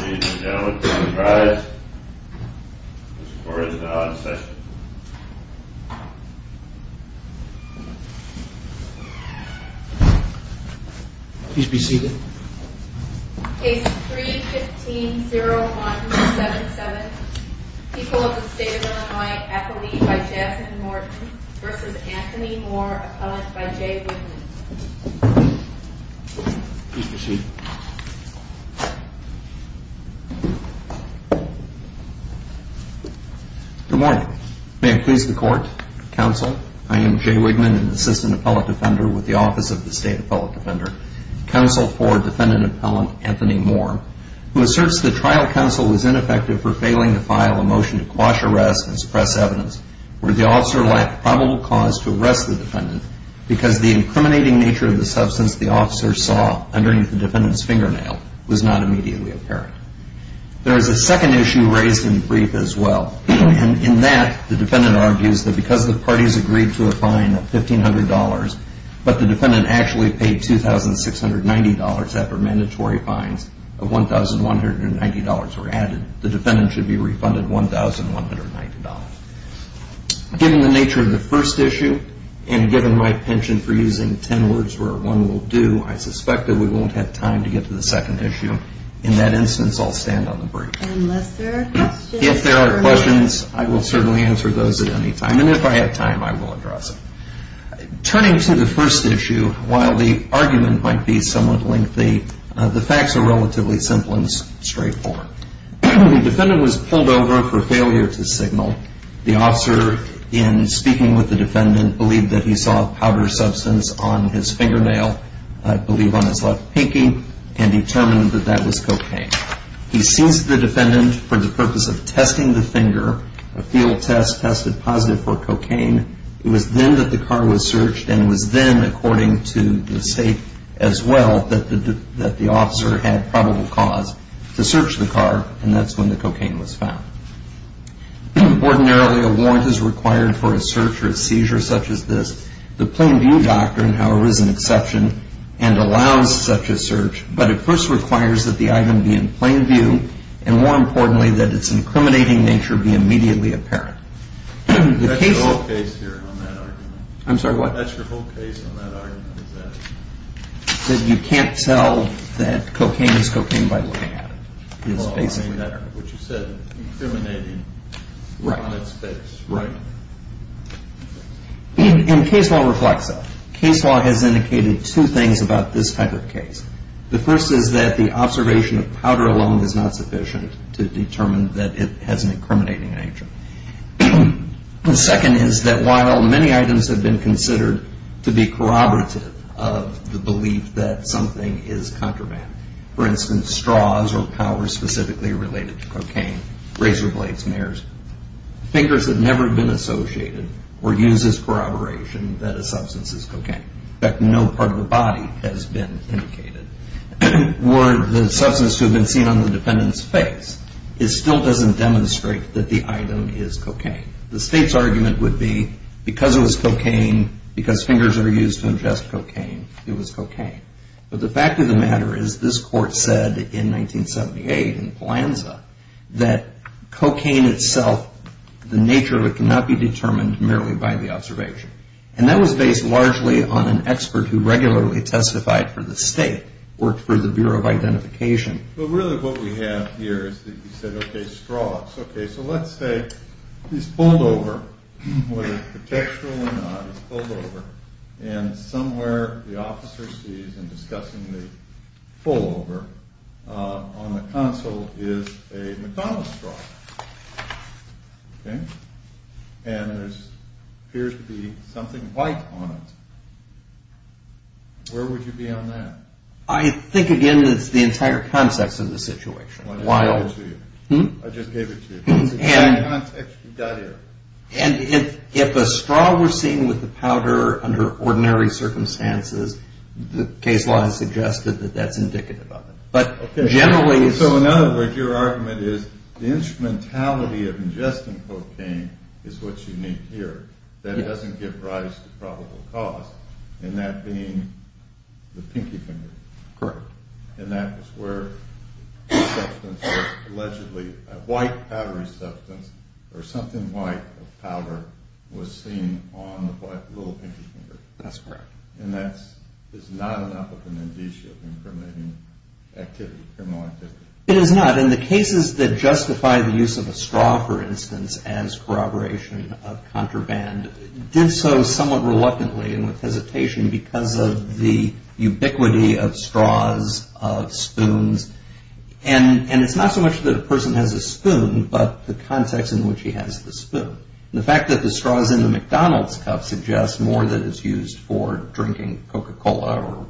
Ladies and gentlemen, please rise. This court is now in session. Please be seated. Case 3-15-01-77. People of the State of Illinois. Appellee by Jackson Morton v. Anthony Moore. Please be seated. Good morning. May it please the Court, Counsel, I am Jay Wigman, an Assistant Appellate Defender with the Office of the State Appellate Defender. Counsel for Defendant Appellant Anthony Moore, who asserts that trial counsel was ineffective for failing to file a motion to quash arrests and suppress evidence where the officer lacked probable cause to arrest the defendant because the incriminating nature of the substance the officer saw underneath the defendant's fingernail was not immediately apparent. There is a second issue raised in brief as well. In that, the defendant argues that because the parties agreed to a fine of $1,500, but the defendant actually paid $2,690 after mandatory fines of $1,190 were added, the defendant should be refunded $1,190. Given the nature of the first issue, and given my penchant for using ten words where one will do, I suspect that we won't have time to get to the second issue. In that instance, I'll stand on the brief. Unless there are questions. If there are questions, I will certainly answer those at any time, and if I have time, I will address them. Turning to the first issue, while the argument might be somewhat lengthy, the facts are relatively simple and straightforward. The defendant was pulled over for failure to signal. The officer, in speaking with the defendant, believed that he saw a powder substance on his fingernail, I believe on his left pinky, and determined that that was cocaine. He seized the defendant for the purpose of testing the finger. A field test tested positive for cocaine. It was then that the car was searched, and it was then, according to the state as well, that the officer had probable cause to search the car, and that's when the cocaine was found. Ordinarily, a warrant is required for a search or a seizure such as this. The plain view doctrine, however, is an exception and allows such a search, but it first requires that the item be in plain view, and more importantly, that its incriminating nature be immediately apparent. That's your whole case here on that argument. I'm sorry, what? That's your whole case on that argument, is that it? That you can't tell that cocaine is cocaine by looking at it. Well, I mean that, what you said, incriminating on its face, right? And case law reflects that. Case law has indicated two things about this type of case. The first is that the observation of powder alone is not sufficient to determine that it has an incriminating nature. The second is that while many items have been considered to be corroborative of the belief that something is contraband, for instance, straws or powders specifically related to cocaine, razor blades, mares, fingers have never been associated or used as corroboration that a substance is cocaine. In fact, no part of the body has been indicated. Or the substance has been seen on the defendant's face. It still doesn't demonstrate that the item is cocaine. The state's argument would be because it was cocaine, because fingers are used to ingest cocaine, it was cocaine. But the fact of the matter is this court said in 1978 in Polanza that cocaine itself, the nature of it cannot be determined merely by the observation. And that was based largely on an expert who regularly testified for the state, worked for the Bureau of Identification. But really what we have here is that he said, okay, straws. Okay, so let's say he's pulled over, whether it's contextual or not, he's pulled over, and somewhere the officer sees in discussing the pullover on the console is a McDonald's straw. Okay? And there appears to be something white on it. Where would you be on that? I think, again, it's the entire context of the situation. Why don't I give it to you? Hmm? I just gave it to you. It's the entire context. And if a straw was seen with the powder under ordinary circumstances, the case law has suggested that that's indicative of it. But generally... So in other words, your argument is the instrumentality of ingesting cocaine is what you need here. That doesn't give rise to probable cause. And that being the pinky finger. Correct. And that was where the substance was allegedly, a white powdery substance or something white of powder, was seen on the little pinky finger. That's correct. And that is not an application of criminal activity. It is not. And the cases that justify the use of a straw, for instance, as corroboration of contraband, did so somewhat reluctantly and with hesitation because of the ubiquity of straws, of spoons. And it's not so much that a person has a spoon, but the context in which he has the spoon. The fact that the straw is in the McDonald's cup suggests more that it's used for drinking Coca-Cola or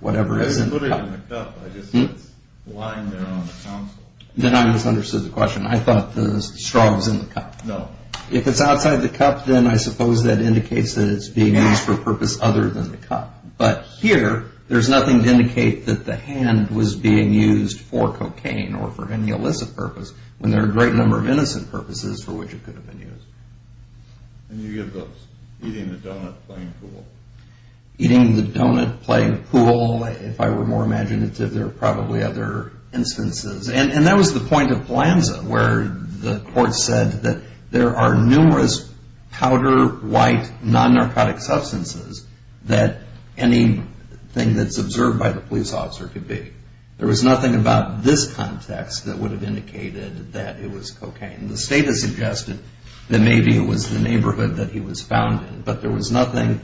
whatever is in the cup. I didn't put it in the cup. I just said it's lying there on the council. Then I misunderstood the question. I thought the straw was in the cup. No. If it's outside the cup, then I suppose that indicates that it's being used for a purpose other than the cup. But here, there's nothing to indicate that the hand was being used for cocaine or for any illicit purpose when there are a great number of innocent purposes for which it could have been used. And you give those eating the donut, playing pool. Eating the donut, playing pool. If I were more imaginative, there are probably other instances. And that was the point of PLANZA where the court said that there are numerous powder, white, non-narcotic substances that anything that's observed by the police officer could be. There was nothing about this context that would have indicated that it was cocaine. The state has suggested that maybe it was the neighborhood that he was found in. But there was nothing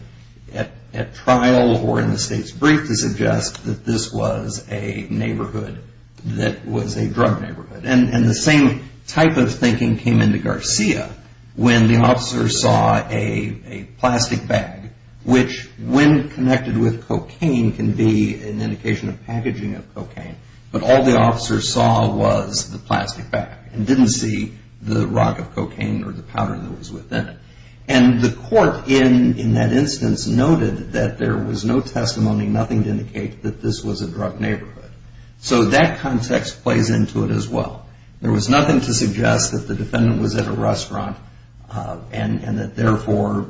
at trial or in the state's brief to suggest that this was a neighborhood that was a drug neighborhood. And the same type of thinking came into Garcia when the officer saw a plastic bag, which when connected with cocaine can be an indication of packaging of cocaine. But all the officer saw was the plastic bag and didn't see the rock of cocaine or the powder that was within it. And the court in that instance noted that there was no testimony, nothing to indicate that this was a drug neighborhood. So that context plays into it as well. There was nothing to suggest that the defendant was at a restaurant and that, therefore,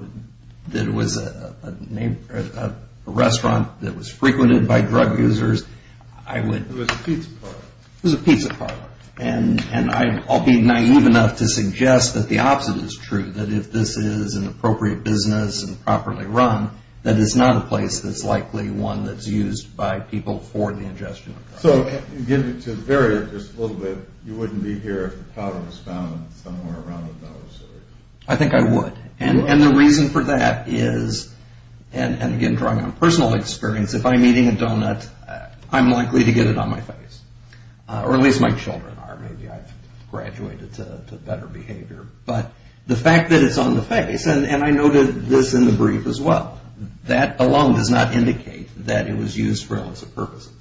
that it was a restaurant that was frequented by drug users. It was a pizza parlor. It was a pizza parlor. And I'll be naive enough to suggest that the opposite is true, that if this is an appropriate business and properly run, that it's not a place that's likely one that's used by people for the ingestion of drugs. So to vary it just a little bit, you wouldn't be here if the powder was found somewhere around the nose? I think I would. And the reason for that is, and again drawing on personal experience, if I'm eating a donut, I'm likely to get it on my face. Or at least my children are. Maybe I've graduated to better behavior. But the fact that it's on the face, and I noted this in the brief as well, that alone does not indicate that it was used for illicit purposes.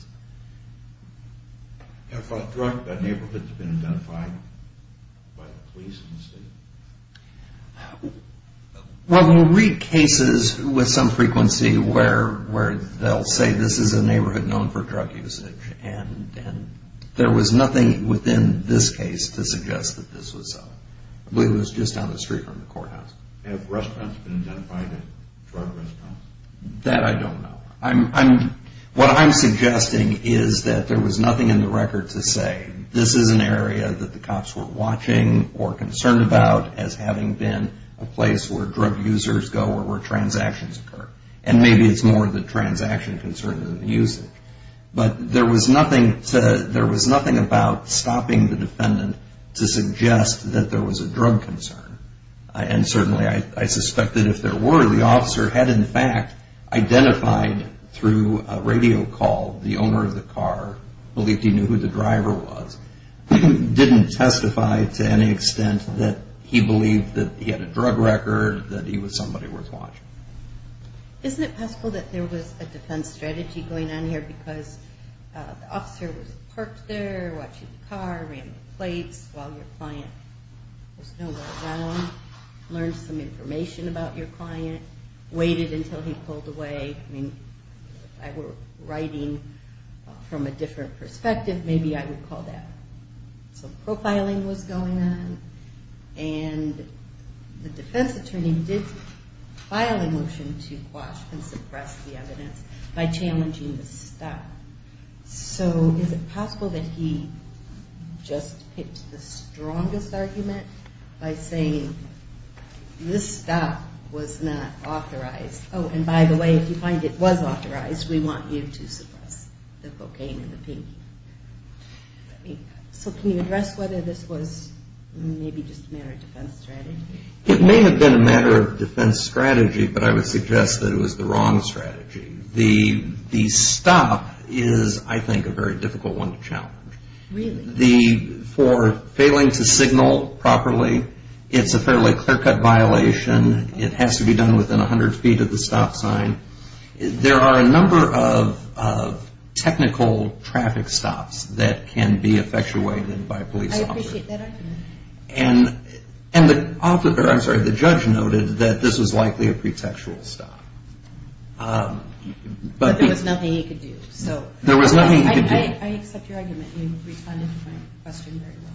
Have drug neighborhoods been identified by the police in the state? Well, we'll read cases with some frequency where they'll say this is a neighborhood known for drug usage, and there was nothing within this case to suggest that this was so. I believe it was just down the street from the courthouse. Have restaurants been identified as drug restaurants? That I don't know. What I'm suggesting is that there was nothing in the record to say this is an area that the cops were watching or concerned about as having been a place where drug users go or where transactions occur. And maybe it's more the transaction concern than the usage. But there was nothing about stopping the defendant to suggest that there was a drug concern. And certainly I suspect that if there were, the officer had in fact identified through a radio call the owner of the car, believed he knew who the driver was, didn't testify to any extent that he believed that he had a drug record, that he was somebody worth watching. Isn't it possible that there was a defense strategy going on here because the officer was parked there, watching the car, ran the plates while your client was nowhere around, learned some information about your client, waited until he pulled away. If I were writing from a different perspective, maybe I would call that. So profiling was going on. And the defense attorney did file a motion to quash and suppress the evidence by challenging the stop. So is it possible that he just picked the strongest argument by saying this stop was not authorized? Oh, and by the way, if you find it was authorized, we want you to suppress the cocaine and the pinky. So can you address whether this was maybe just a matter of defense strategy? It may have been a matter of defense strategy, but I would suggest that it was the wrong strategy. The stop is, I think, a very difficult one to challenge. Really? For failing to signal properly, it's a fairly clear-cut violation. It has to be done within 100 feet of the stop sign. There are a number of technical traffic stops that can be effectuated by police officers. I appreciate that argument. And the judge noted that this was likely a pretextual stop. But there was nothing he could do. There was nothing he could do. I accept your argument. You responded to my question very well.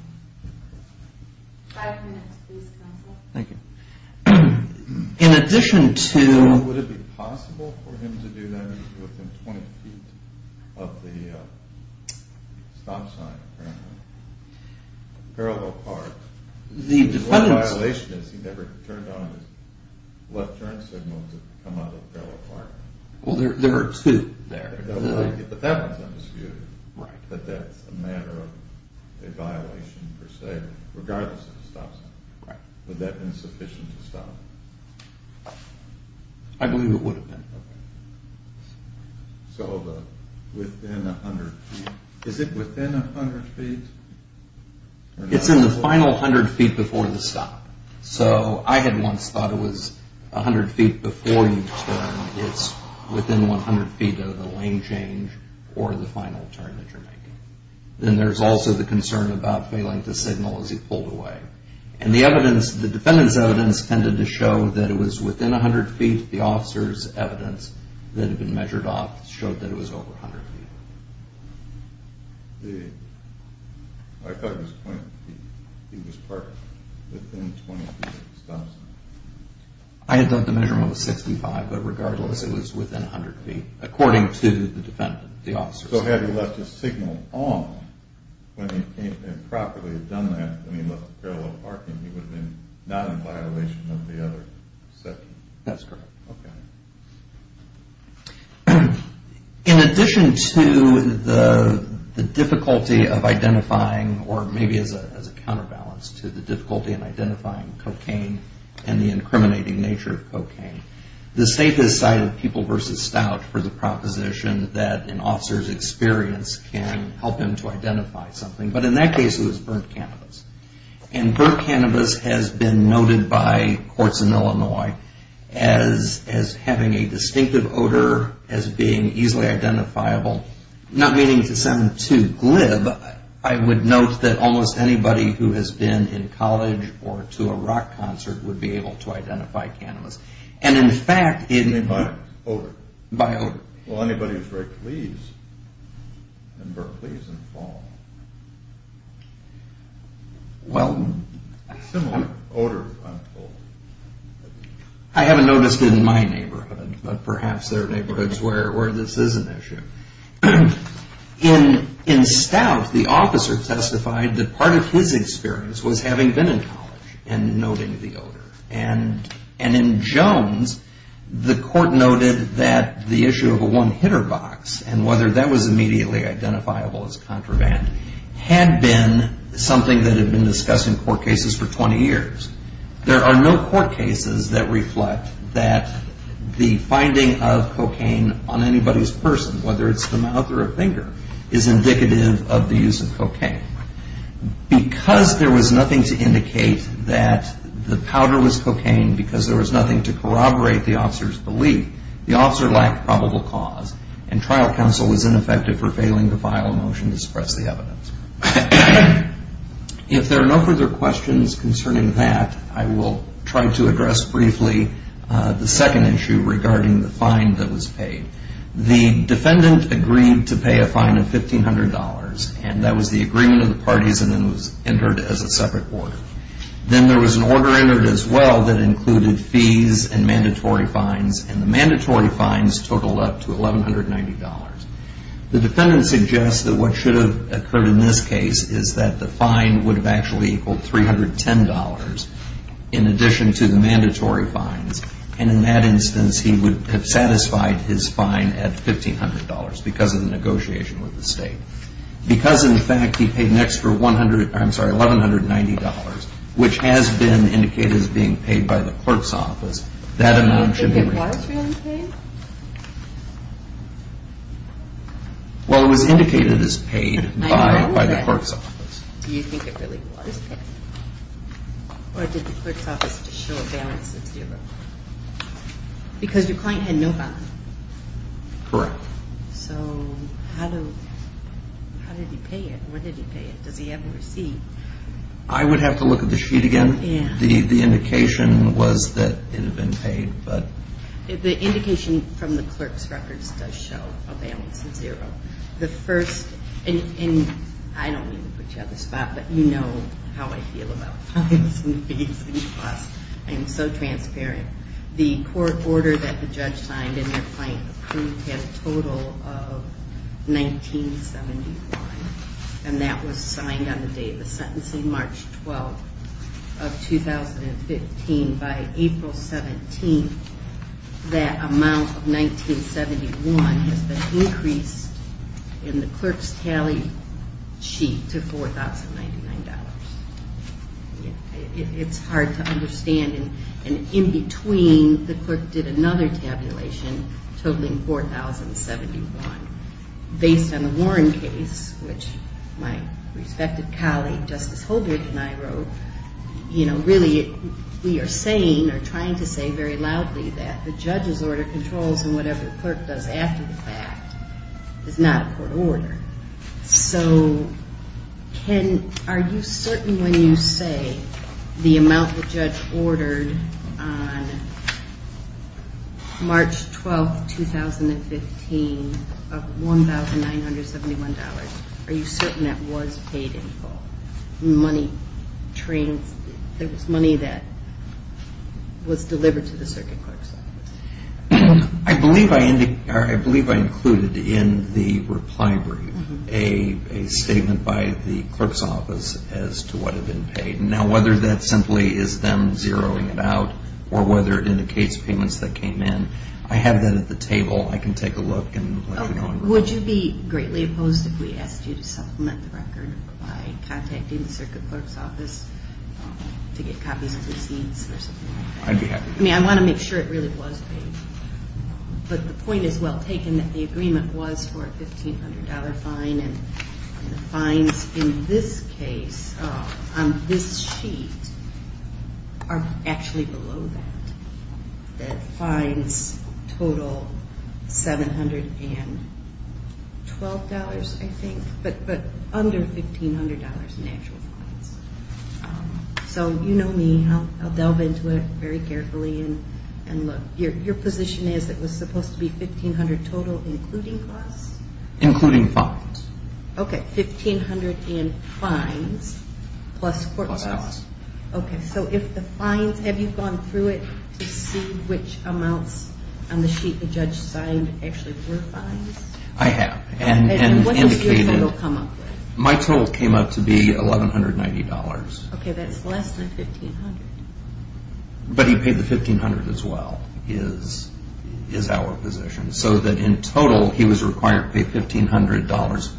Five minutes, please, counsel. Thank you. In addition to... Is it possible for him to do that within 20 feet of the stop sign, apparently? Parallel park. The defendant's... The only violation is he never turned on his left turn signal to come out of the parallel park. Well, there were two there. But that one's undisputed. Right. But that's a matter of a violation, per se, regardless of the stop sign. Right. Would that have been sufficient to stop him? I believe it would have been. Okay. So within 100 feet. Is it within 100 feet? It's in the final 100 feet before the stop. So I had once thought it was 100 feet before you turn. It's within 100 feet of the lane change or the final turn that you're making. Then there's also the concern about failing to signal as he pulled away. Right. And the evidence, the defendant's evidence tended to show that it was within 100 feet. The officer's evidence that had been measured off showed that it was over 100 feet. I thought it was 20 feet. He was parked within 20 feet of the stop sign. I had thought the measurement was 65, but regardless, it was within 100 feet, according to the defendant, the officer. So had he left his signal on when he came and properly had done that, when he left the parallel parking, he would have been not in violation of the other section. That's correct. Okay. In addition to the difficulty of identifying, or maybe as a counterbalance to the difficulty The safest side of people versus stout for the proposition that an officer's experience can help him to identify something. But in that case, it was burnt cannabis. And burnt cannabis has been noted by courts in Illinois as having a distinctive odor, as being easily identifiable, not meaning to send to glib. I would note that almost anybody who has been in college or to a rock concert would be able to identify cannabis. And in fact... By odor. By odor. Well, anybody who's very pleased and burnt leaves in the fall. Well... Similar odor on the floor. I haven't noticed it in my neighborhood, but perhaps there are neighborhoods where this is an issue. In stout, the officer testified that part of his experience was having been in college and noting the odor. And in Jones, the court noted that the issue of a one-hitter box and whether that was immediately identifiable as contraband had been something that had been discussed in court cases for 20 years. There are no court cases that reflect that the finding of cocaine on anybody's person, whether it's the mouth or a finger, is indicative of the use of cocaine. Because there was nothing to indicate that the powder was cocaine because there was nothing to corroborate the officer's belief, the officer lacked probable cause, and trial counsel was ineffective for failing to file a motion to suppress the evidence. If there are no further questions concerning that, I will try to address briefly the second issue regarding the fine that was paid. The defendant agreed to pay a fine of $1,500, and that was the agreement of the parties and then was entered as a separate order. Then there was an order entered as well that included fees and mandatory fines, and the mandatory fines totaled up to $1,190. The defendant suggests that what should have occurred in this case is that the fine would have actually equaled $310 in addition to the mandatory fines, and in that instance he would have satisfied his fine at $1,500 because of the negotiation with the state. Because, in fact, he paid an extra $1,190, which has been indicated as being paid by the court's office, that amount should be retained. Do you think it was really paid? Well, it was indicated as paid by the court's office. Do you think it really was paid? Or did the court's office just show a balance of zero? Because your client had no balance. Correct. So how did he pay it? Where did he pay it? Does he have a receipt? I would have to look at the sheet again. The indication was that it had been paid. The indication from the clerk's records does show a balance of zero. I don't mean to put you out of the spot, but you know how I feel about fines and fees and costs. I'm so transparent. The court order that the judge signed and your client approved had a total of $1,971, and that was signed on the day of the sentencing, March 12th of 2015. By April 17th, that amount of $1,971 has been increased in the clerk's tally sheet to $4,099. It's hard to understand. And in between, the clerk did another tabulation totaling $4,071. Based on the Warren case, which my respective colleague Justice Holdred and I wrote, you know, really we are saying or trying to say very loudly that the judge's order controls and whatever the clerk does after the fact is not a court order. So are you certain when you say the amount the judge ordered on March 12th, 2015 of $1,971, are you certain that was paid in full? The money that was delivered to the circuit clerk? I believe I included in the reply brief a statement by the clerk's office as to what had been paid. Now, whether that simply is them zeroing it out or whether it indicates payments that came in, I have that at the table. I can take a look and let you know. Would you be greatly opposed if we asked you to supplement the record by contacting the circuit clerk's office to get copies of receipts or something like that? I'd be happy to. I mean, I want to make sure it really was paid. But the point is well taken that the agreement was for a $1,500 fine, and the fines in this case on this sheet are actually below that. The fines total $712, I think, but under $1,500 in actual fines. So you know me. I'll delve into it very carefully. And look, your position is it was supposed to be $1,500 total, Including fines. Okay, $1,500 in fines plus court costs. Okay, so if the fines, have you gone through it to see which amounts on the sheet the judge signed actually were fines? I have. And what does your federal come up with? My total came up to be $1,190. Okay, that's less than $1,500. But he paid the $1,500 as well is our position. So that in total he was required to pay $1,500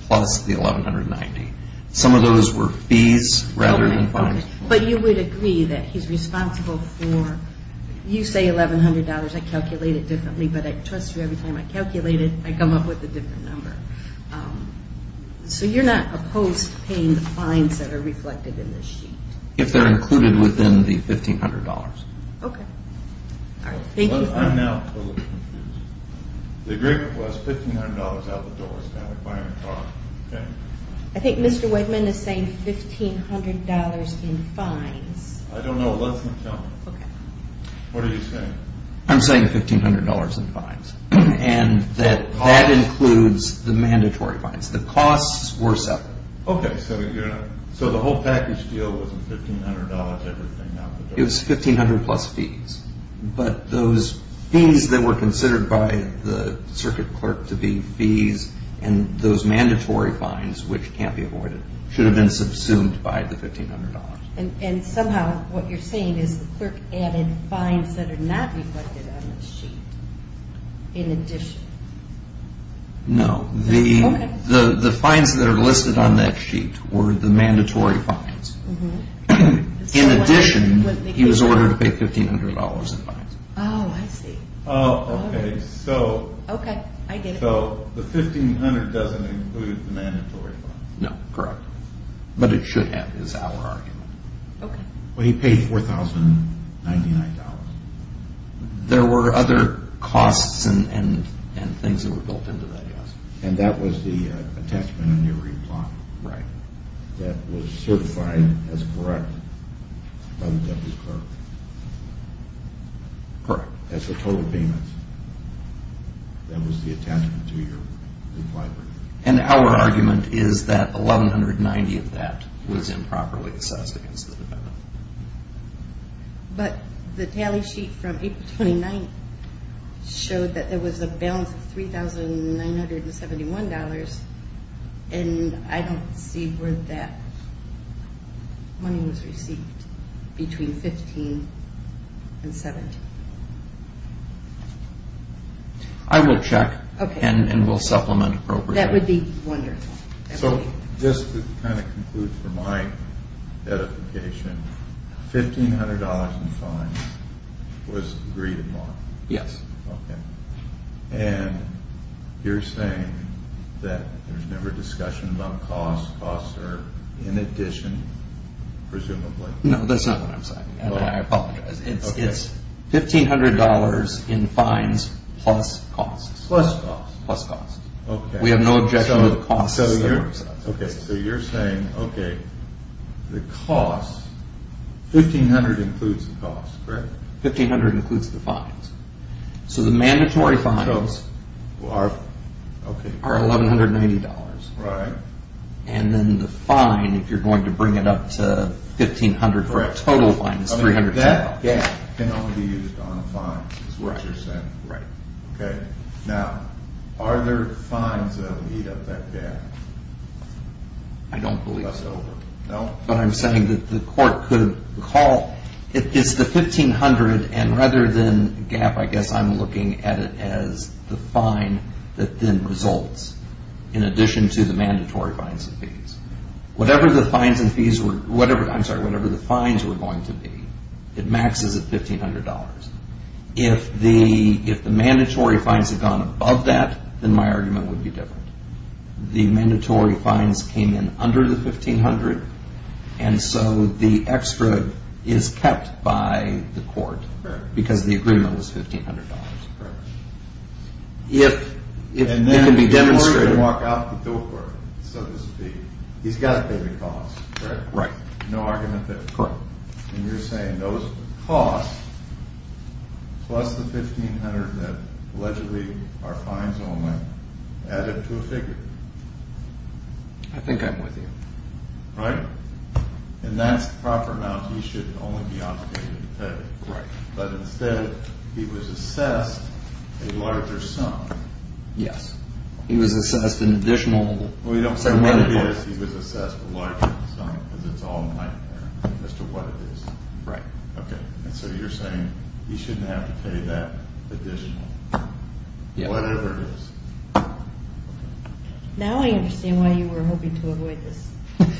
plus the $1,190. Some of those were fees rather than fines. But you would agree that he's responsible for, you say $1,100. I calculate it differently, but I trust you every time I calculate it, I come up with a different number. So you're not opposed to paying the fines that are reflected in this sheet? If they're included within the $1,500. Okay. I'm now a little confused. The agreement was $1,500 out the door. I think Mr. Whitman is saying $1,500 in fines. I don't know. Let him tell me. What are you saying? I'm saying $1,500 in fines. And that includes the mandatory fines. The costs were separate. It was $1,500 plus fees. But those fees that were considered by the circuit clerk to be fees and those mandatory fines, which can't be avoided, should have been subsumed by the $1,500. And somehow what you're saying is the clerk added fines that are not reflected on the sheet in addition. No. Okay. The fines that are listed on that sheet were the mandatory fines. In addition, he was ordered to pay $1,500 in fines. Oh, I see. Oh, okay. Okay, I get it. So the $1,500 doesn't include the mandatory fines. No, correct. But it should have is our argument. Okay. But he paid $4,099. There were other costs and things that were built into that, yes. And that was the attachment on your reply. Right. That was certified as correct by the deputy clerk. Correct. That's the total payments. That was the attachment to your reply. And our argument is that $1,190 of that was improperly assessed against the defendant. But the tally sheet from April 29th showed that there was a balance of $3,971, and I don't see where that money was received between 15 and 17. I will check and we'll supplement appropriately. That would be wonderful. So just to kind of conclude for my edification, $1,500 in fines was agreed upon. Yes. Okay. And you're saying that there's never discussion about costs. Costs are in addition, presumably. No, that's not what I'm saying, and I apologize. It's $1,500 in fines plus costs. Plus costs. Plus costs. Okay. We have no objection to the costs. Okay, so you're saying, okay, the costs, $1,500 includes the costs, correct? $1,500 includes the fines. So the mandatory fines are $1,190. Right. And then the fine, if you're going to bring it up to $1,500 for a total fine, is $310. That can only be used on fines is what you're saying. Right. Okay. Now, are there fines that will meet up that gap? I don't believe so. That's over. No? But I'm saying that the court could call, it's the $1,500, and rather than gap, I guess I'm looking at it as the fine that then results in addition to the mandatory fines and fees. Whatever the fines and fees were, I'm sorry, whatever the fines were going to be, it maxes at $1,500. If the mandatory fines had gone above that, then my argument would be different. The mandatory fines came in under the $1,500, and so the extra is kept by the court because the agreement was $1,500. Correct. If it can be demonstrated. And then if you were to walk out the door, so to speak, he's got to pay the costs, correct? Right. No argument there? Correct. And you're saying those costs plus the $1,500 that allegedly are fines only add up to a figure. I think I'm with you. Right? And that's the proper amount he should only be obligated to pay. Right. But instead, he was assessed a larger sum. Yes. He was assessed an additional $1,500. Well, you don't say what it is. He was assessed a larger sum because it's all nightmare as to what it is. Right. Okay. And so you're saying he shouldn't have to pay that additional whatever it is. Now I understand why you were hoping to avoid this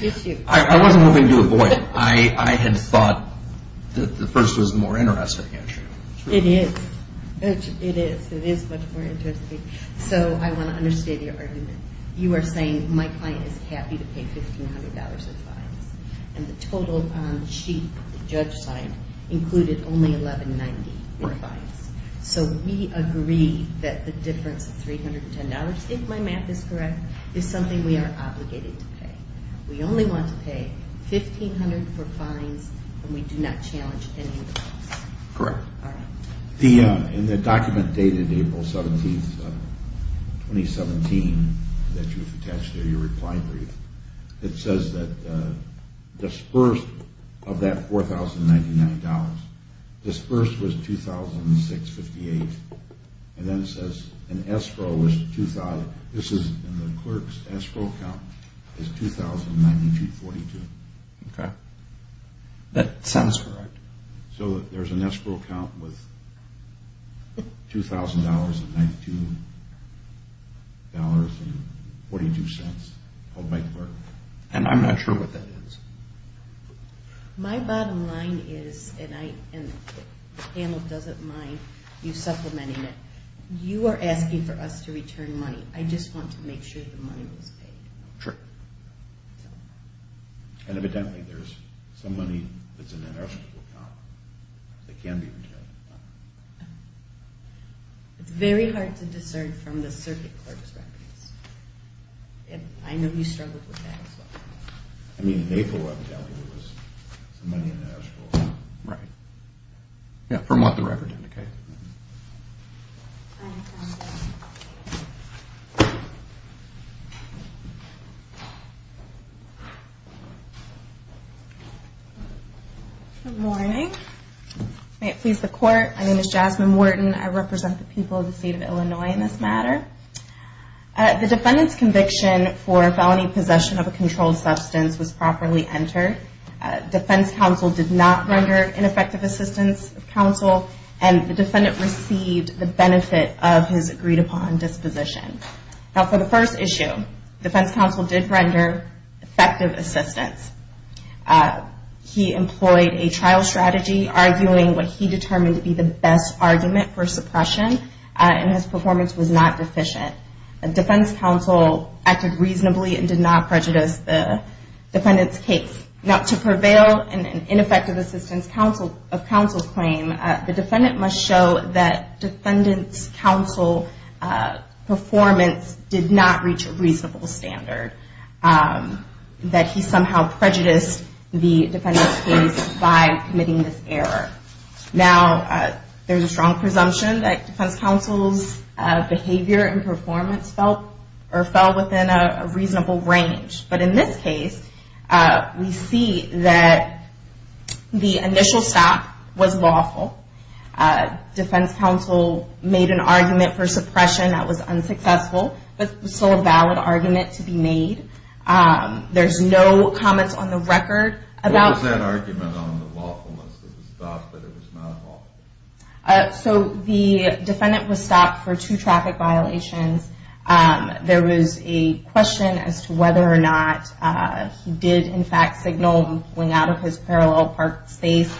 issue. I wasn't hoping to avoid it. I had thought that the first was a more interesting issue. It is. It is. It is much more interesting. So I want to understand your argument. You are saying my client is happy to pay $1,500 in fines. And the total sheet the judge signed included only $1,190 in fines. So we agree that the difference of $310, if my math is correct, is something we are obligated to pay. We only want to pay $1,500 for fines, and we do not challenge any of the costs. Correct. All right. In the document dated April 17th, 2017, that you've attached to your reply brief, it says that disbursed of that $4,099, disbursed was $2,658. And then it says an escrow was $2,000. This is in the clerk's escrow count is $2,9242. Okay. That sounds correct. So there's an escrow count with $2,000 and $9,242 called by the clerk. And I'm not sure what that is. My bottom line is, and the panel doesn't mind you supplementing it, you are asking for us to return money. I just want to make sure the money was paid. Sure. Evidently, there's some money that's in that escrow count that can be returned. It's very hard to discern from the circuit clerk's records. I know he struggled with that as well. I mean, in April, I'm telling you, there was some money in that escrow count. Right. Yeah, from what the record indicated. Thank you. Good morning. May it please the Court, my name is Jasmine Wharton. I represent the people of the State of Illinois in this matter. The defendant's conviction for felony possession of a controlled substance was properly entered. Defense counsel did not render ineffective assistance of counsel. And the defendant received the benefit of his agreed-upon disposition. Now, for the first issue, defense counsel did render effective assistance. He employed a trial strategy, arguing what he determined to be the best argument for suppression, and his performance was not deficient. Defense counsel acted reasonably and did not prejudice the defendant's case. Now, to prevail in an ineffective assistance of counsel claim, the defendant must show that defendant's counsel performance did not reach a reasonable standard, that he somehow prejudiced the defendant's case by committing this error. Now, there's a strong presumption that defense counsel's behavior and performance fell within a reasonable range. But in this case, we see that the initial stop was lawful. Defense counsel made an argument for suppression that was unsuccessful, but still a valid argument to be made. There's no comments on the record about- What was that argument on the lawfulness that was stopped, but it was not lawful? So, the defendant was stopped for two traffic violations. There was a question as to whether or not he did, in fact, signal going out of his parallel parked space.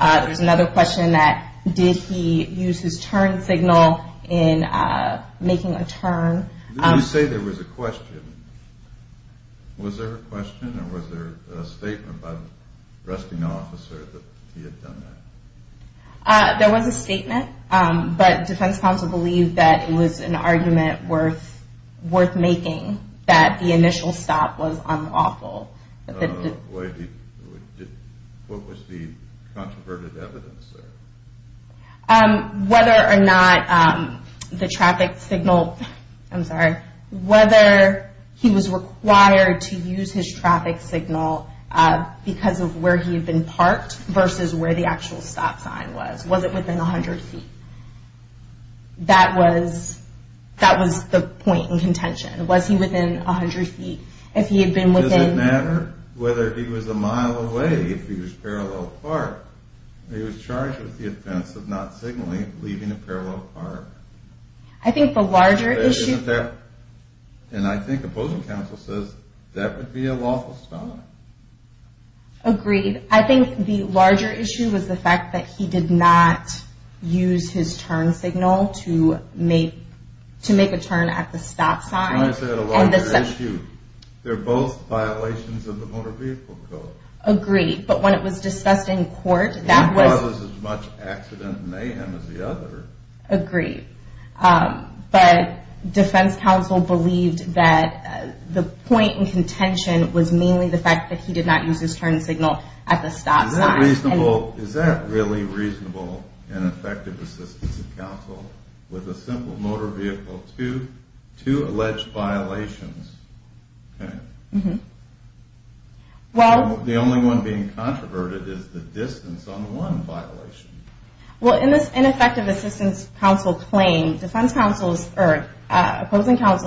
There was another question that, did he use his turn signal in making a turn? You say there was a question. Was there a question or was there a statement by the arresting officer that he had done that? There was a statement, but defense counsel believed that it was an argument worth making, that the initial stop was unlawful. What was the controversial evidence there? Whether or not the traffic signal, I'm sorry, whether he was required to use his traffic signal because of where he had been parked versus where the actual stop sign was. Was it within 100 feet? That was the point in contention. Was he within 100 feet? Does it matter whether he was a mile away if he was parallel parked? He was charged with the offense of not signaling, leaving a parallel park. I think the larger issue- And I think opposing counsel says that would be a lawful stop. Agreed. I think the larger issue was the fact that he did not use his turn signal to make a turn at the stop sign. That's why I said a larger issue. They're both violations of the Motor Vehicle Code. Agreed. But when it was discussed in court, that was- One causes as much accident and mayhem as the other. Agreed. But defense counsel believed that the point in contention was mainly the fact that he did not use his turn signal at the stop sign. Is that really reasonable in effective assistance of counsel? With a simple motor vehicle, two alleged violations? The only one being controverted is the distance on one violation. Well, in this ineffective assistance counsel claim, opposing counsel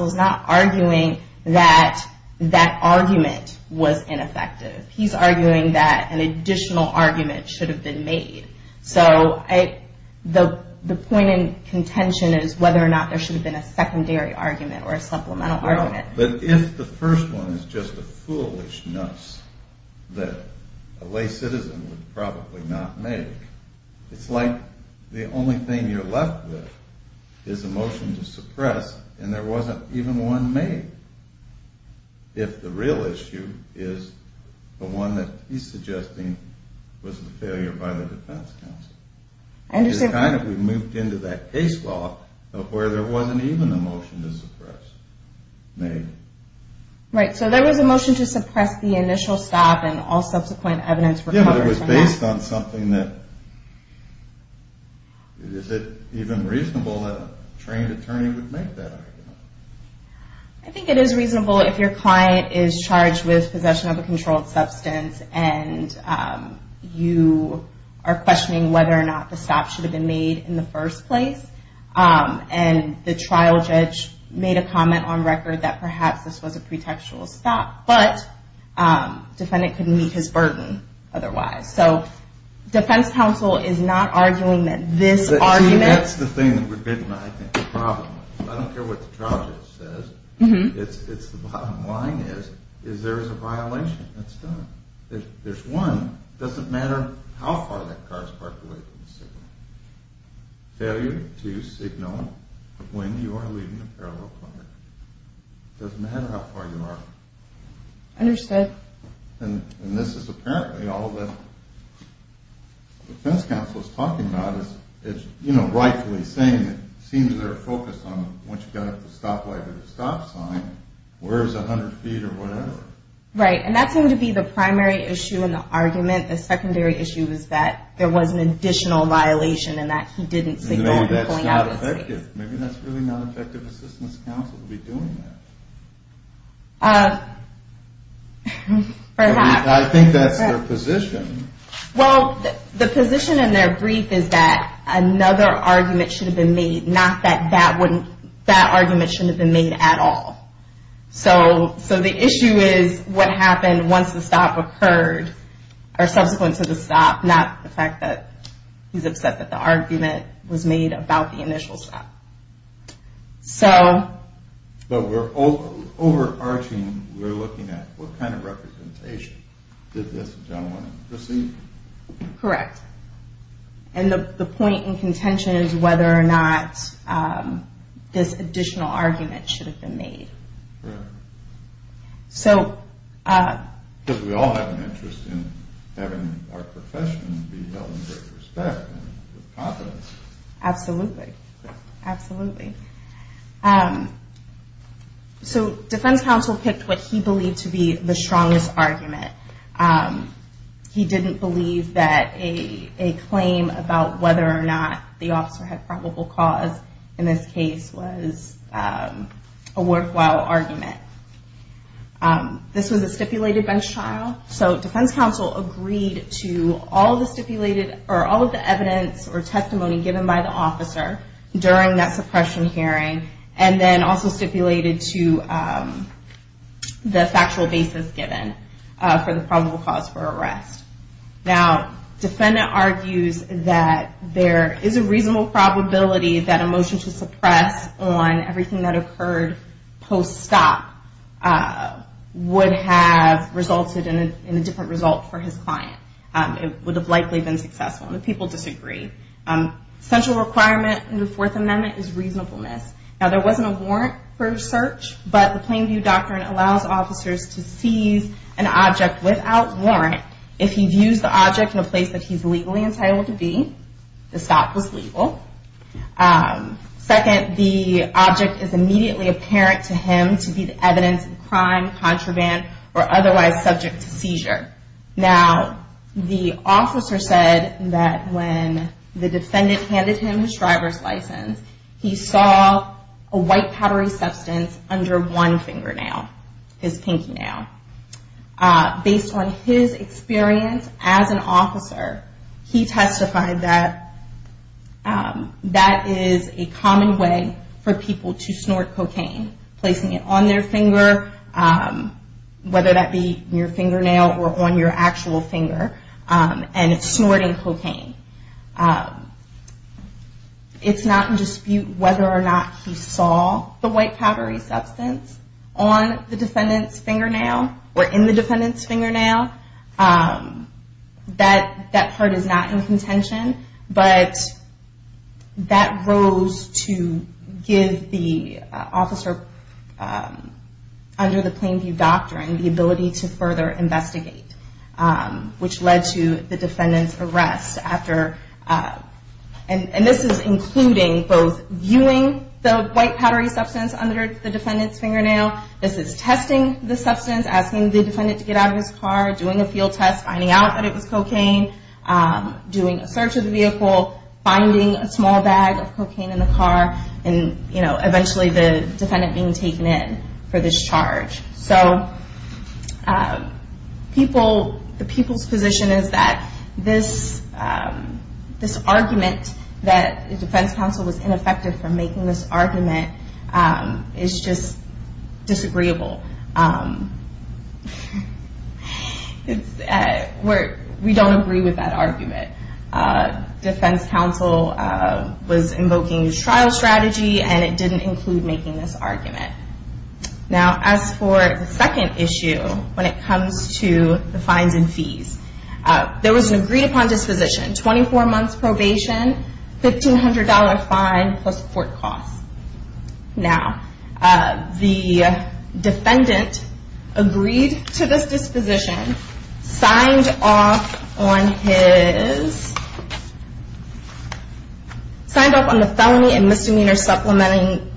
is not arguing that that argument was ineffective. He's arguing that an additional argument should have been made. So the point in contention is whether or not there should have been a secondary argument or a supplemental argument. But if the first one is just a foolishness that a lay citizen would probably not make, it's like the only thing you're left with is a motion to suppress and there wasn't even one made. If the real issue is the one that he's suggesting was the failure by the defense counsel. It's kind of we've moved into that case law where there wasn't even a motion to suppress made. Right, so there was a motion to suppress the initial stop and all subsequent evidence- Yeah, but it was based on something that- Is it even reasonable that a trained attorney would make that argument? I think it is reasonable if your client is charged with possession of a controlled substance and you are questioning whether or not the stop should have been made in the first place. And the trial judge made a comment on record that perhaps this was a pretextual stop, but the defendant couldn't meet his burden otherwise. So defense counsel is not arguing that this argument- See, that's the thing that we're getting at, I think, the problem. I don't care what the trial judge says. The bottom line is there is a violation. That's done. There's one. It doesn't matter how far that car is parked away from the signal. Failure to signal when you are leaving a parallel car. It doesn't matter how far you are. Understood. And this is apparently all that the defense counsel is talking about. Rightfully saying, it seems they're focused on once you've got up the stop light or the stop sign, where's 100 feet or whatever. Right. And that seemed to be the primary issue in the argument. The secondary issue was that there was an additional violation and that he didn't signal when he was pulling out of his seat. Maybe that's not effective. Maybe that's really not effective assistance counsel to be doing that. Perhaps. I think that's their position. Well, the position in their brief is that another argument should have been made, not that that argument shouldn't have been made at all. So the issue is what happened once the stop occurred or subsequent to the stop, not the fact that he's upset that the argument was made about the initial stop. But we're overarching, we're looking at what kind of representation did this gentleman, receive? Correct. And the point in contention is whether or not this additional argument should have been made. Correct. Because we all have an interest in having our profession be held in great respect and with confidence. Absolutely. Absolutely. So defense counsel picked what he believed to be the strongest argument. He didn't believe that a claim about whether or not the officer had probable cause in this case was a worthwhile argument. This was a stipulated bench trial. So defense counsel agreed to all of the evidence or testimony given by the officer during that suppression hearing and then also stipulated to the factual basis given for the probable cause for arrest. Now, defendant argues that there is a reasonable probability that a motion to suppress on everything that occurred post-stop would have resulted in a different result for his client. It would have likely been successful. The people disagree. Central requirement in the Fourth Amendment is reasonableness. Now, there wasn't a warrant for search, but the Plainview Doctrine allows officers to seize an object without warrant if he views the object in a place that he's legally entitled to be. The stop was legal. Second, the object is immediately apparent to him to be the evidence of crime, contraband, or otherwise subject to seizure. Now, the officer said that when the defendant handed him his driver's license, he saw a white powdery substance under one fingernail, his pinky nail. Based on his experience as an officer, he testified that that is a common way for people to snort cocaine, placing it on their finger, whether that be your fingernail or on your actual finger, and snorting cocaine. It's not in dispute whether or not he saw the white powdery substance on the defendant's fingernail or in the defendant's fingernail. That part is not in contention, but that rose to give the officer under the Plainview Doctrine the ability to further investigate, which led to the defendant's arrest. This is including both viewing the white powdery substance under the defendant's fingernail. This is testing the substance, asking the defendant to get out of his car, doing a field test, finding out that it was cocaine, doing a search of the vehicle, finding a small bag of cocaine in the car, and eventually the defendant being taken in for this charge. So the people's position is that this argument that the defense counsel was ineffective for making this argument is just disagreeable. We don't agree with that argument. Defense counsel was invoking his trial strategy, and it didn't include making this argument. Now, as for the second issue, when it comes to the fines and fees, there was an agreed-upon disposition. 24 months probation, $1,500 fine, plus court costs. Now, the defendant agreed to this disposition, signed off on the felony and misdemeanor supplementing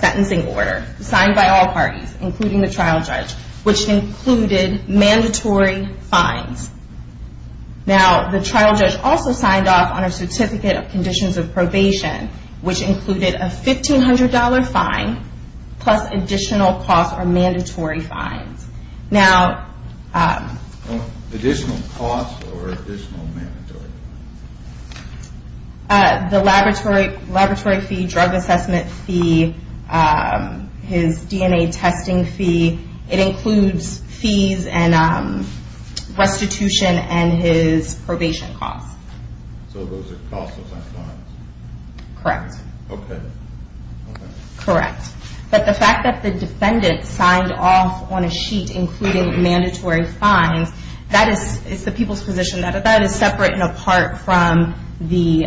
sentencing order, signed by all parties, including the trial judge, which included mandatory fines. Now, the trial judge also signed off on a certificate of conditions of probation, which included a $1,500 fine plus additional costs or mandatory fines. Additional costs or additional mandatory? The laboratory fee, drug assessment fee, his DNA testing fee. It includes fees and restitution and his probation costs. So those are costs, those aren't fines? Correct. Okay. Correct. But the fact that the defendant signed off on a sheet including mandatory fines, that is the people's position. That is separate and apart from the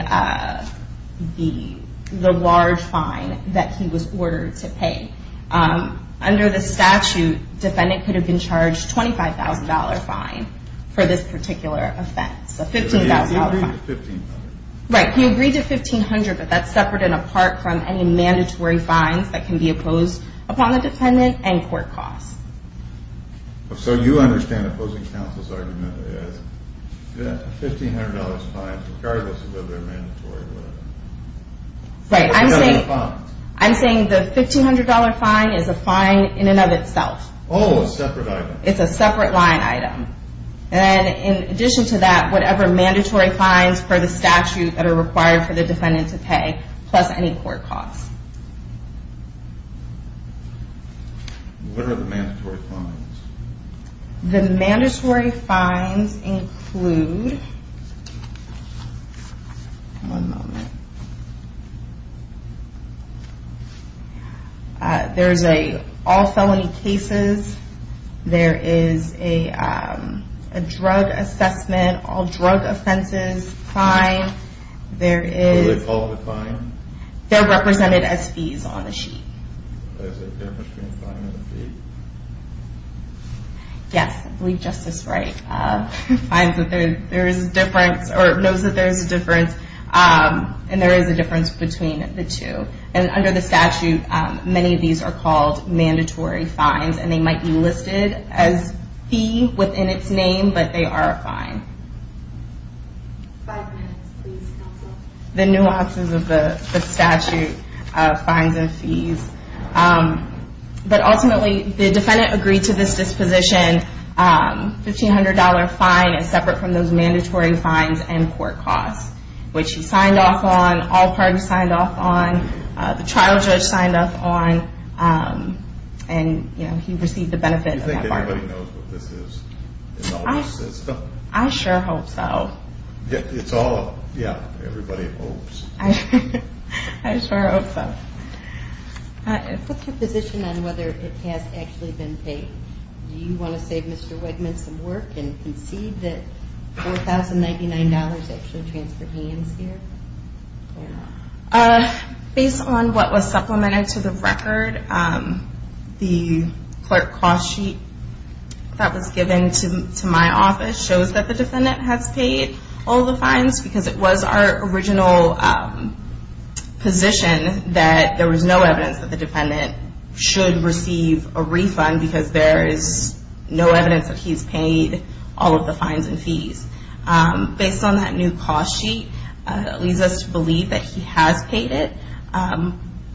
large fine that he was ordered to pay. Under the statute, the defendant could have been charged a $25,000 fine for this particular offense. A $15,000 fine. He agreed to $1,500. Right. He agreed to $1,500, but that's separate and apart from any mandatory fines that can be imposed upon the defendant and court costs. So you understand the opposing counsel's argument is $1,500 fines regardless of whether they're mandatory or not. Right. I'm saying the $1,500 fine is a fine in and of itself. Oh, a separate item. It's a separate line item. And in addition to that, whatever mandatory fines per the statute that are required for the defendant to pay, plus any court costs. What are the mandatory fines? The mandatory fines include... There's an all felony cases. There is a drug assessment. All drug offenses fine. There is... Are they called a fine? They're represented as fees on the sheet. Is there a difference between a fine and a fee? Yes, I believe Justice Wright knows that there is a difference. And there is a difference between the two. And under the statute, many of these are called mandatory fines. And they might be listed as fee within its name, but they are a fine. Five minutes, please, counsel. The nuances of the statute of fines and fees. But ultimately, the defendant agreed to this disposition. $1,500 fine is separate from those mandatory fines and court costs. Which he signed off on. All parties signed off on. The trial judge signed off on. And he received the benefit of that fine. Do you think anybody knows what this is? It's all a system. I sure hope so. It's all... Yeah, everybody hopes. I sure hope so. What's your position on whether it has actually been paid? Do you want to save Mr. Wegman some work and concede that $4,099 actually transferred hands here? Based on what was supplemented to the record, the clerk cost sheet that was given to my office shows that the defendant has paid all the fines because it was our original position that there was no evidence that the defendant should receive a refund because there is no evidence that he's paid all of the fines and fees. Based on that new cost sheet, it leads us to believe that he has paid it.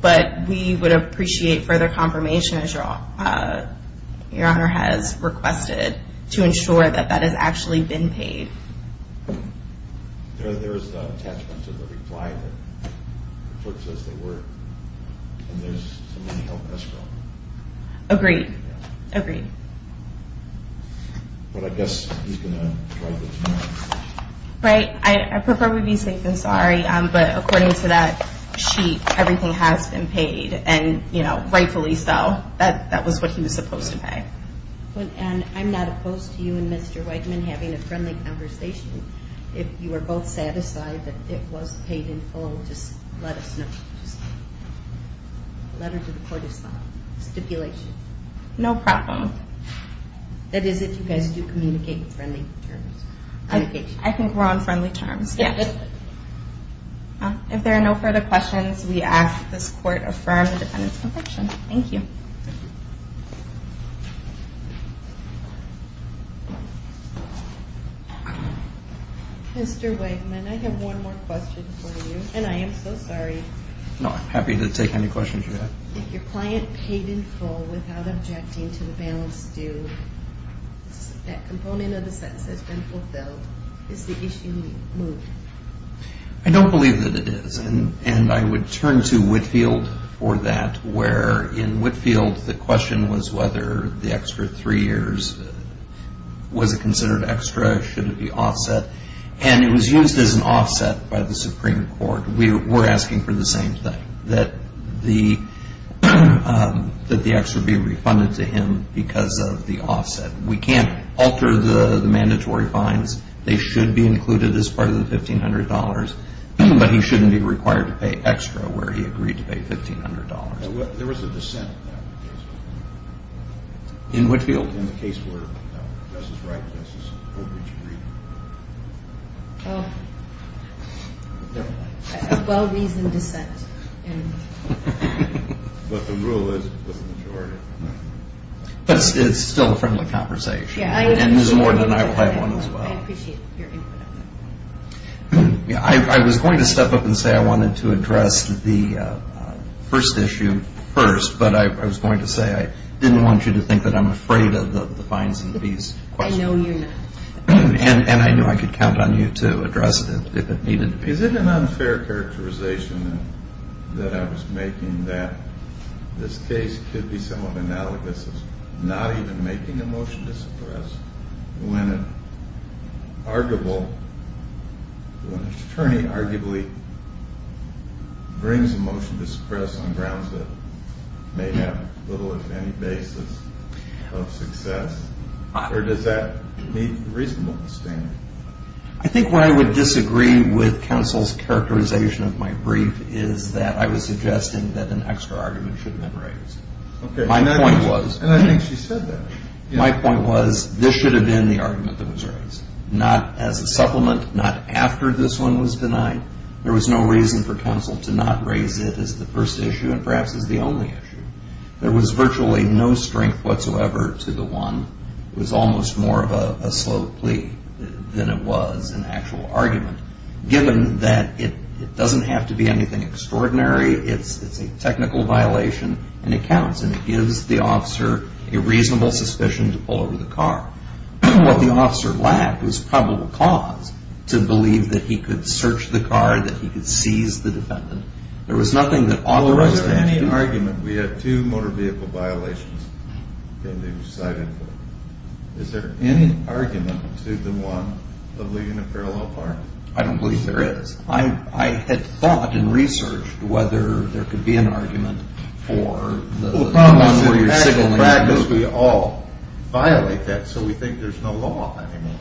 But we would appreciate further confirmation, as Your Honor has requested, to ensure that that has actually been paid. There is an attachment to the reply that the clerk says they were. And there's somebody to help us with that. Agreed. Agreed. But I guess he's going to drive it to my office. Right. I prefer we be safe than sorry. But according to that sheet, everything has been paid. And, you know, rightfully so. That was what he was supposed to pay. And I'm not opposed to you and Mr. Wegman having a friendly conversation. If you are both satisfied that it was paid in full, just let us know. Just a letter to the court is fine. Stipulation. No problem. That is if you guys do communicate in friendly terms. I think we're on friendly terms, yes. If there are no further questions, we ask that this court affirm the defendant's conviction. Thank you. Mr. Wegman, I have one more question for you. And I am so sorry. No, I'm happy to take any questions you have. If your client paid in full without objecting to the balance due, that component of the sentence has been fulfilled, is the issue moved? I don't believe that it is. And I would turn to Whitfield for that, where in Whitfield the question was whether the extra three years, was it considered extra? Should it be offset? And it was used as an offset by the Supreme Court. We're asking for the same thing, that the extra be refunded to him because of the offset. We can't alter the mandatory fines. They should be included as part of the $1,500. But he shouldn't be required to pay extra where he agreed to pay $1,500. There was a dissent in that case. In Whitfield? It was in the case where Justice Wright and Justice Goldridge agreed. Oh. Well-reasoned dissent. But the rule is with the majority. But it's still a friendly conversation. And there's more than I will have one as well. I appreciate your input on that. I was going to step up and say I wanted to address the first issue first. But I was going to say I didn't want you to think that I'm afraid of the fines in these questions. I know you're not. And I knew I could count on you to address it if it needed to be. Is it an unfair characterization that I was making that this case could be somewhat analogous to not even making a motion to suppress when an attorney arguably brings a motion to suppress on grounds that may have little, if any, basis of success? Or does that need reasonable disdain? I think where I would disagree with counsel's characterization of my brief is that I was suggesting that an extra argument should have been raised. My point was this should have been the argument that was raised, not as a supplement, not after this one was denied. There was no reason for counsel to not raise it as the first issue and perhaps as the only issue. There was virtually no strength whatsoever to the one. It was almost more of a slow plea than it was an actual argument, given that it doesn't have to be anything extraordinary. It's a technical violation. And it counts. And it gives the officer a reasonable suspicion to pull over the car. What the officer lacked was probable cause to believe that he could search the car, that he could seize the defendant. There was nothing that authorized him to do that. Was there any argument? We had two motor vehicle violations in the site info. Is there any argument to the one of leaving a parallel apartment? I don't believe there is. I had thought and researched whether there could be an argument for the one where you're signaling. We all violate that, so we think there's no law anymore.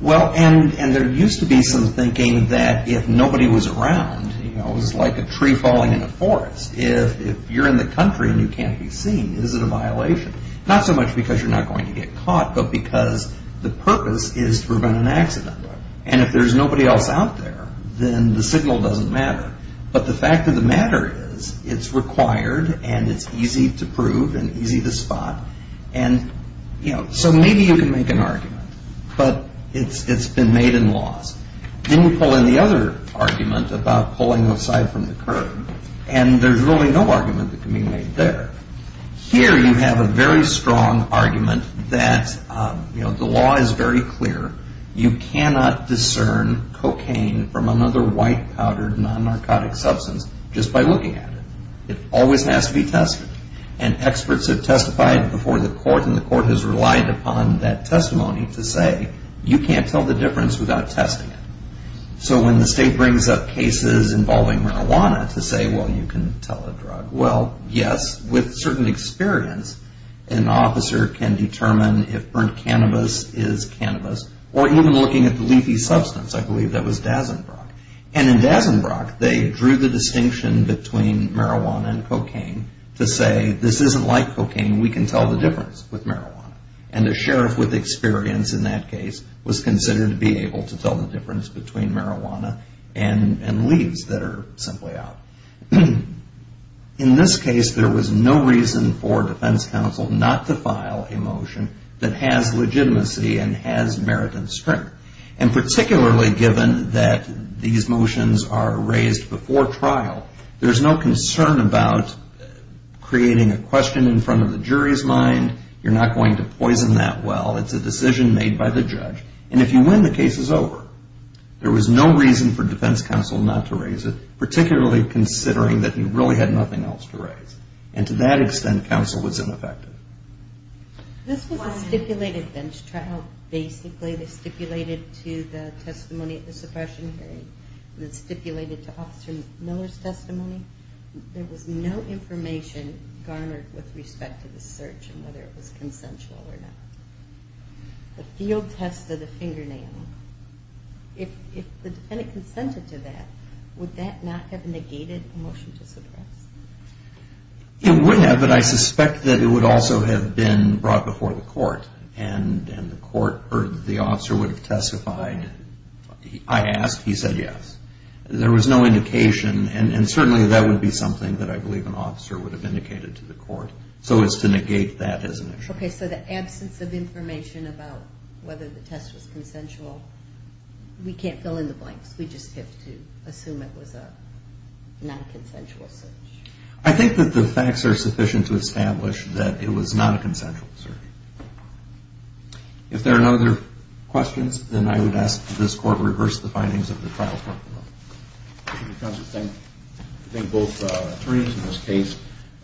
Well, and there used to be some thinking that if nobody was around, it was like a tree falling in a forest. If you're in the country and you can't be seen, is it a violation? Not so much because you're not going to get caught, but because the purpose is to prevent an accident. And if there's nobody else out there, then the signal doesn't matter. But the fact of the matter is it's required and it's easy to prove and easy to spot. And, you know, so maybe you can make an argument. But it's been made in laws. Then you pull in the other argument about pulling aside from the curb, and there's really no argument that can be made there. Here you have a very strong argument that, you know, the law is very clear. You cannot discern cocaine from another white-powdered, non-narcotic substance just by looking at it. It always has to be tested. And experts have testified before the court, and the court has relied upon that testimony to say, you can't tell the difference without testing it. So when the state brings up cases involving marijuana to say, well, you can tell a drug. Well, yes, with certain experience, an officer can determine if burnt cannabis is cannabis, or even looking at the leafy substance. I believe that was Dazenbrock. And in Dazenbrock, they drew the distinction between marijuana and cocaine to say, this isn't like cocaine. We can tell the difference with marijuana. And the sheriff with experience in that case was considered to be able to tell the difference between marijuana and leaves that are simply out. In this case, there was no reason for defense counsel not to file a motion that has legitimacy and has merit and strength. And particularly given that these motions are raised before trial, there's no concern about creating a question in front of the jury's mind. You're not going to poison that well. It's a decision made by the judge. And if you win, the case is over. There was no reason for defense counsel not to raise it, particularly considering that he really had nothing else to raise. And to that extent, counsel was ineffective. This was a stipulated bench trial. Basically, they stipulated to the testimony at the suppression hearing. It was stipulated to Officer Miller's testimony. There was no information garnered with respect to the search and whether it was consensual or not. The field test of the fingernail. If the defendant consented to that, would that not have negated the motion to suppress? It would have, but I suspect that it would also have been brought before the court and the court or the officer would have testified. I asked. He said yes. There was no indication. And certainly that would be something that I believe an officer would have indicated to the court, so as to negate that as an issue. Okay, so the absence of information about whether the test was consensual, we can't fill in the blanks. We just have to assume it was a non-consensual search. I think that the facts are sufficient to establish that it was not a consensual search. If there are no other questions, then I would ask that this Court reverse the findings of the trial. Counsel, thank both attorneys in this case.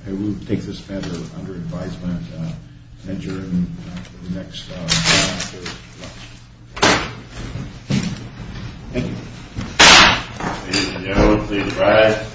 I will take this matter under advisement and adjourn for the next hearing. Thank you. Ladies and gentlemen, please rise.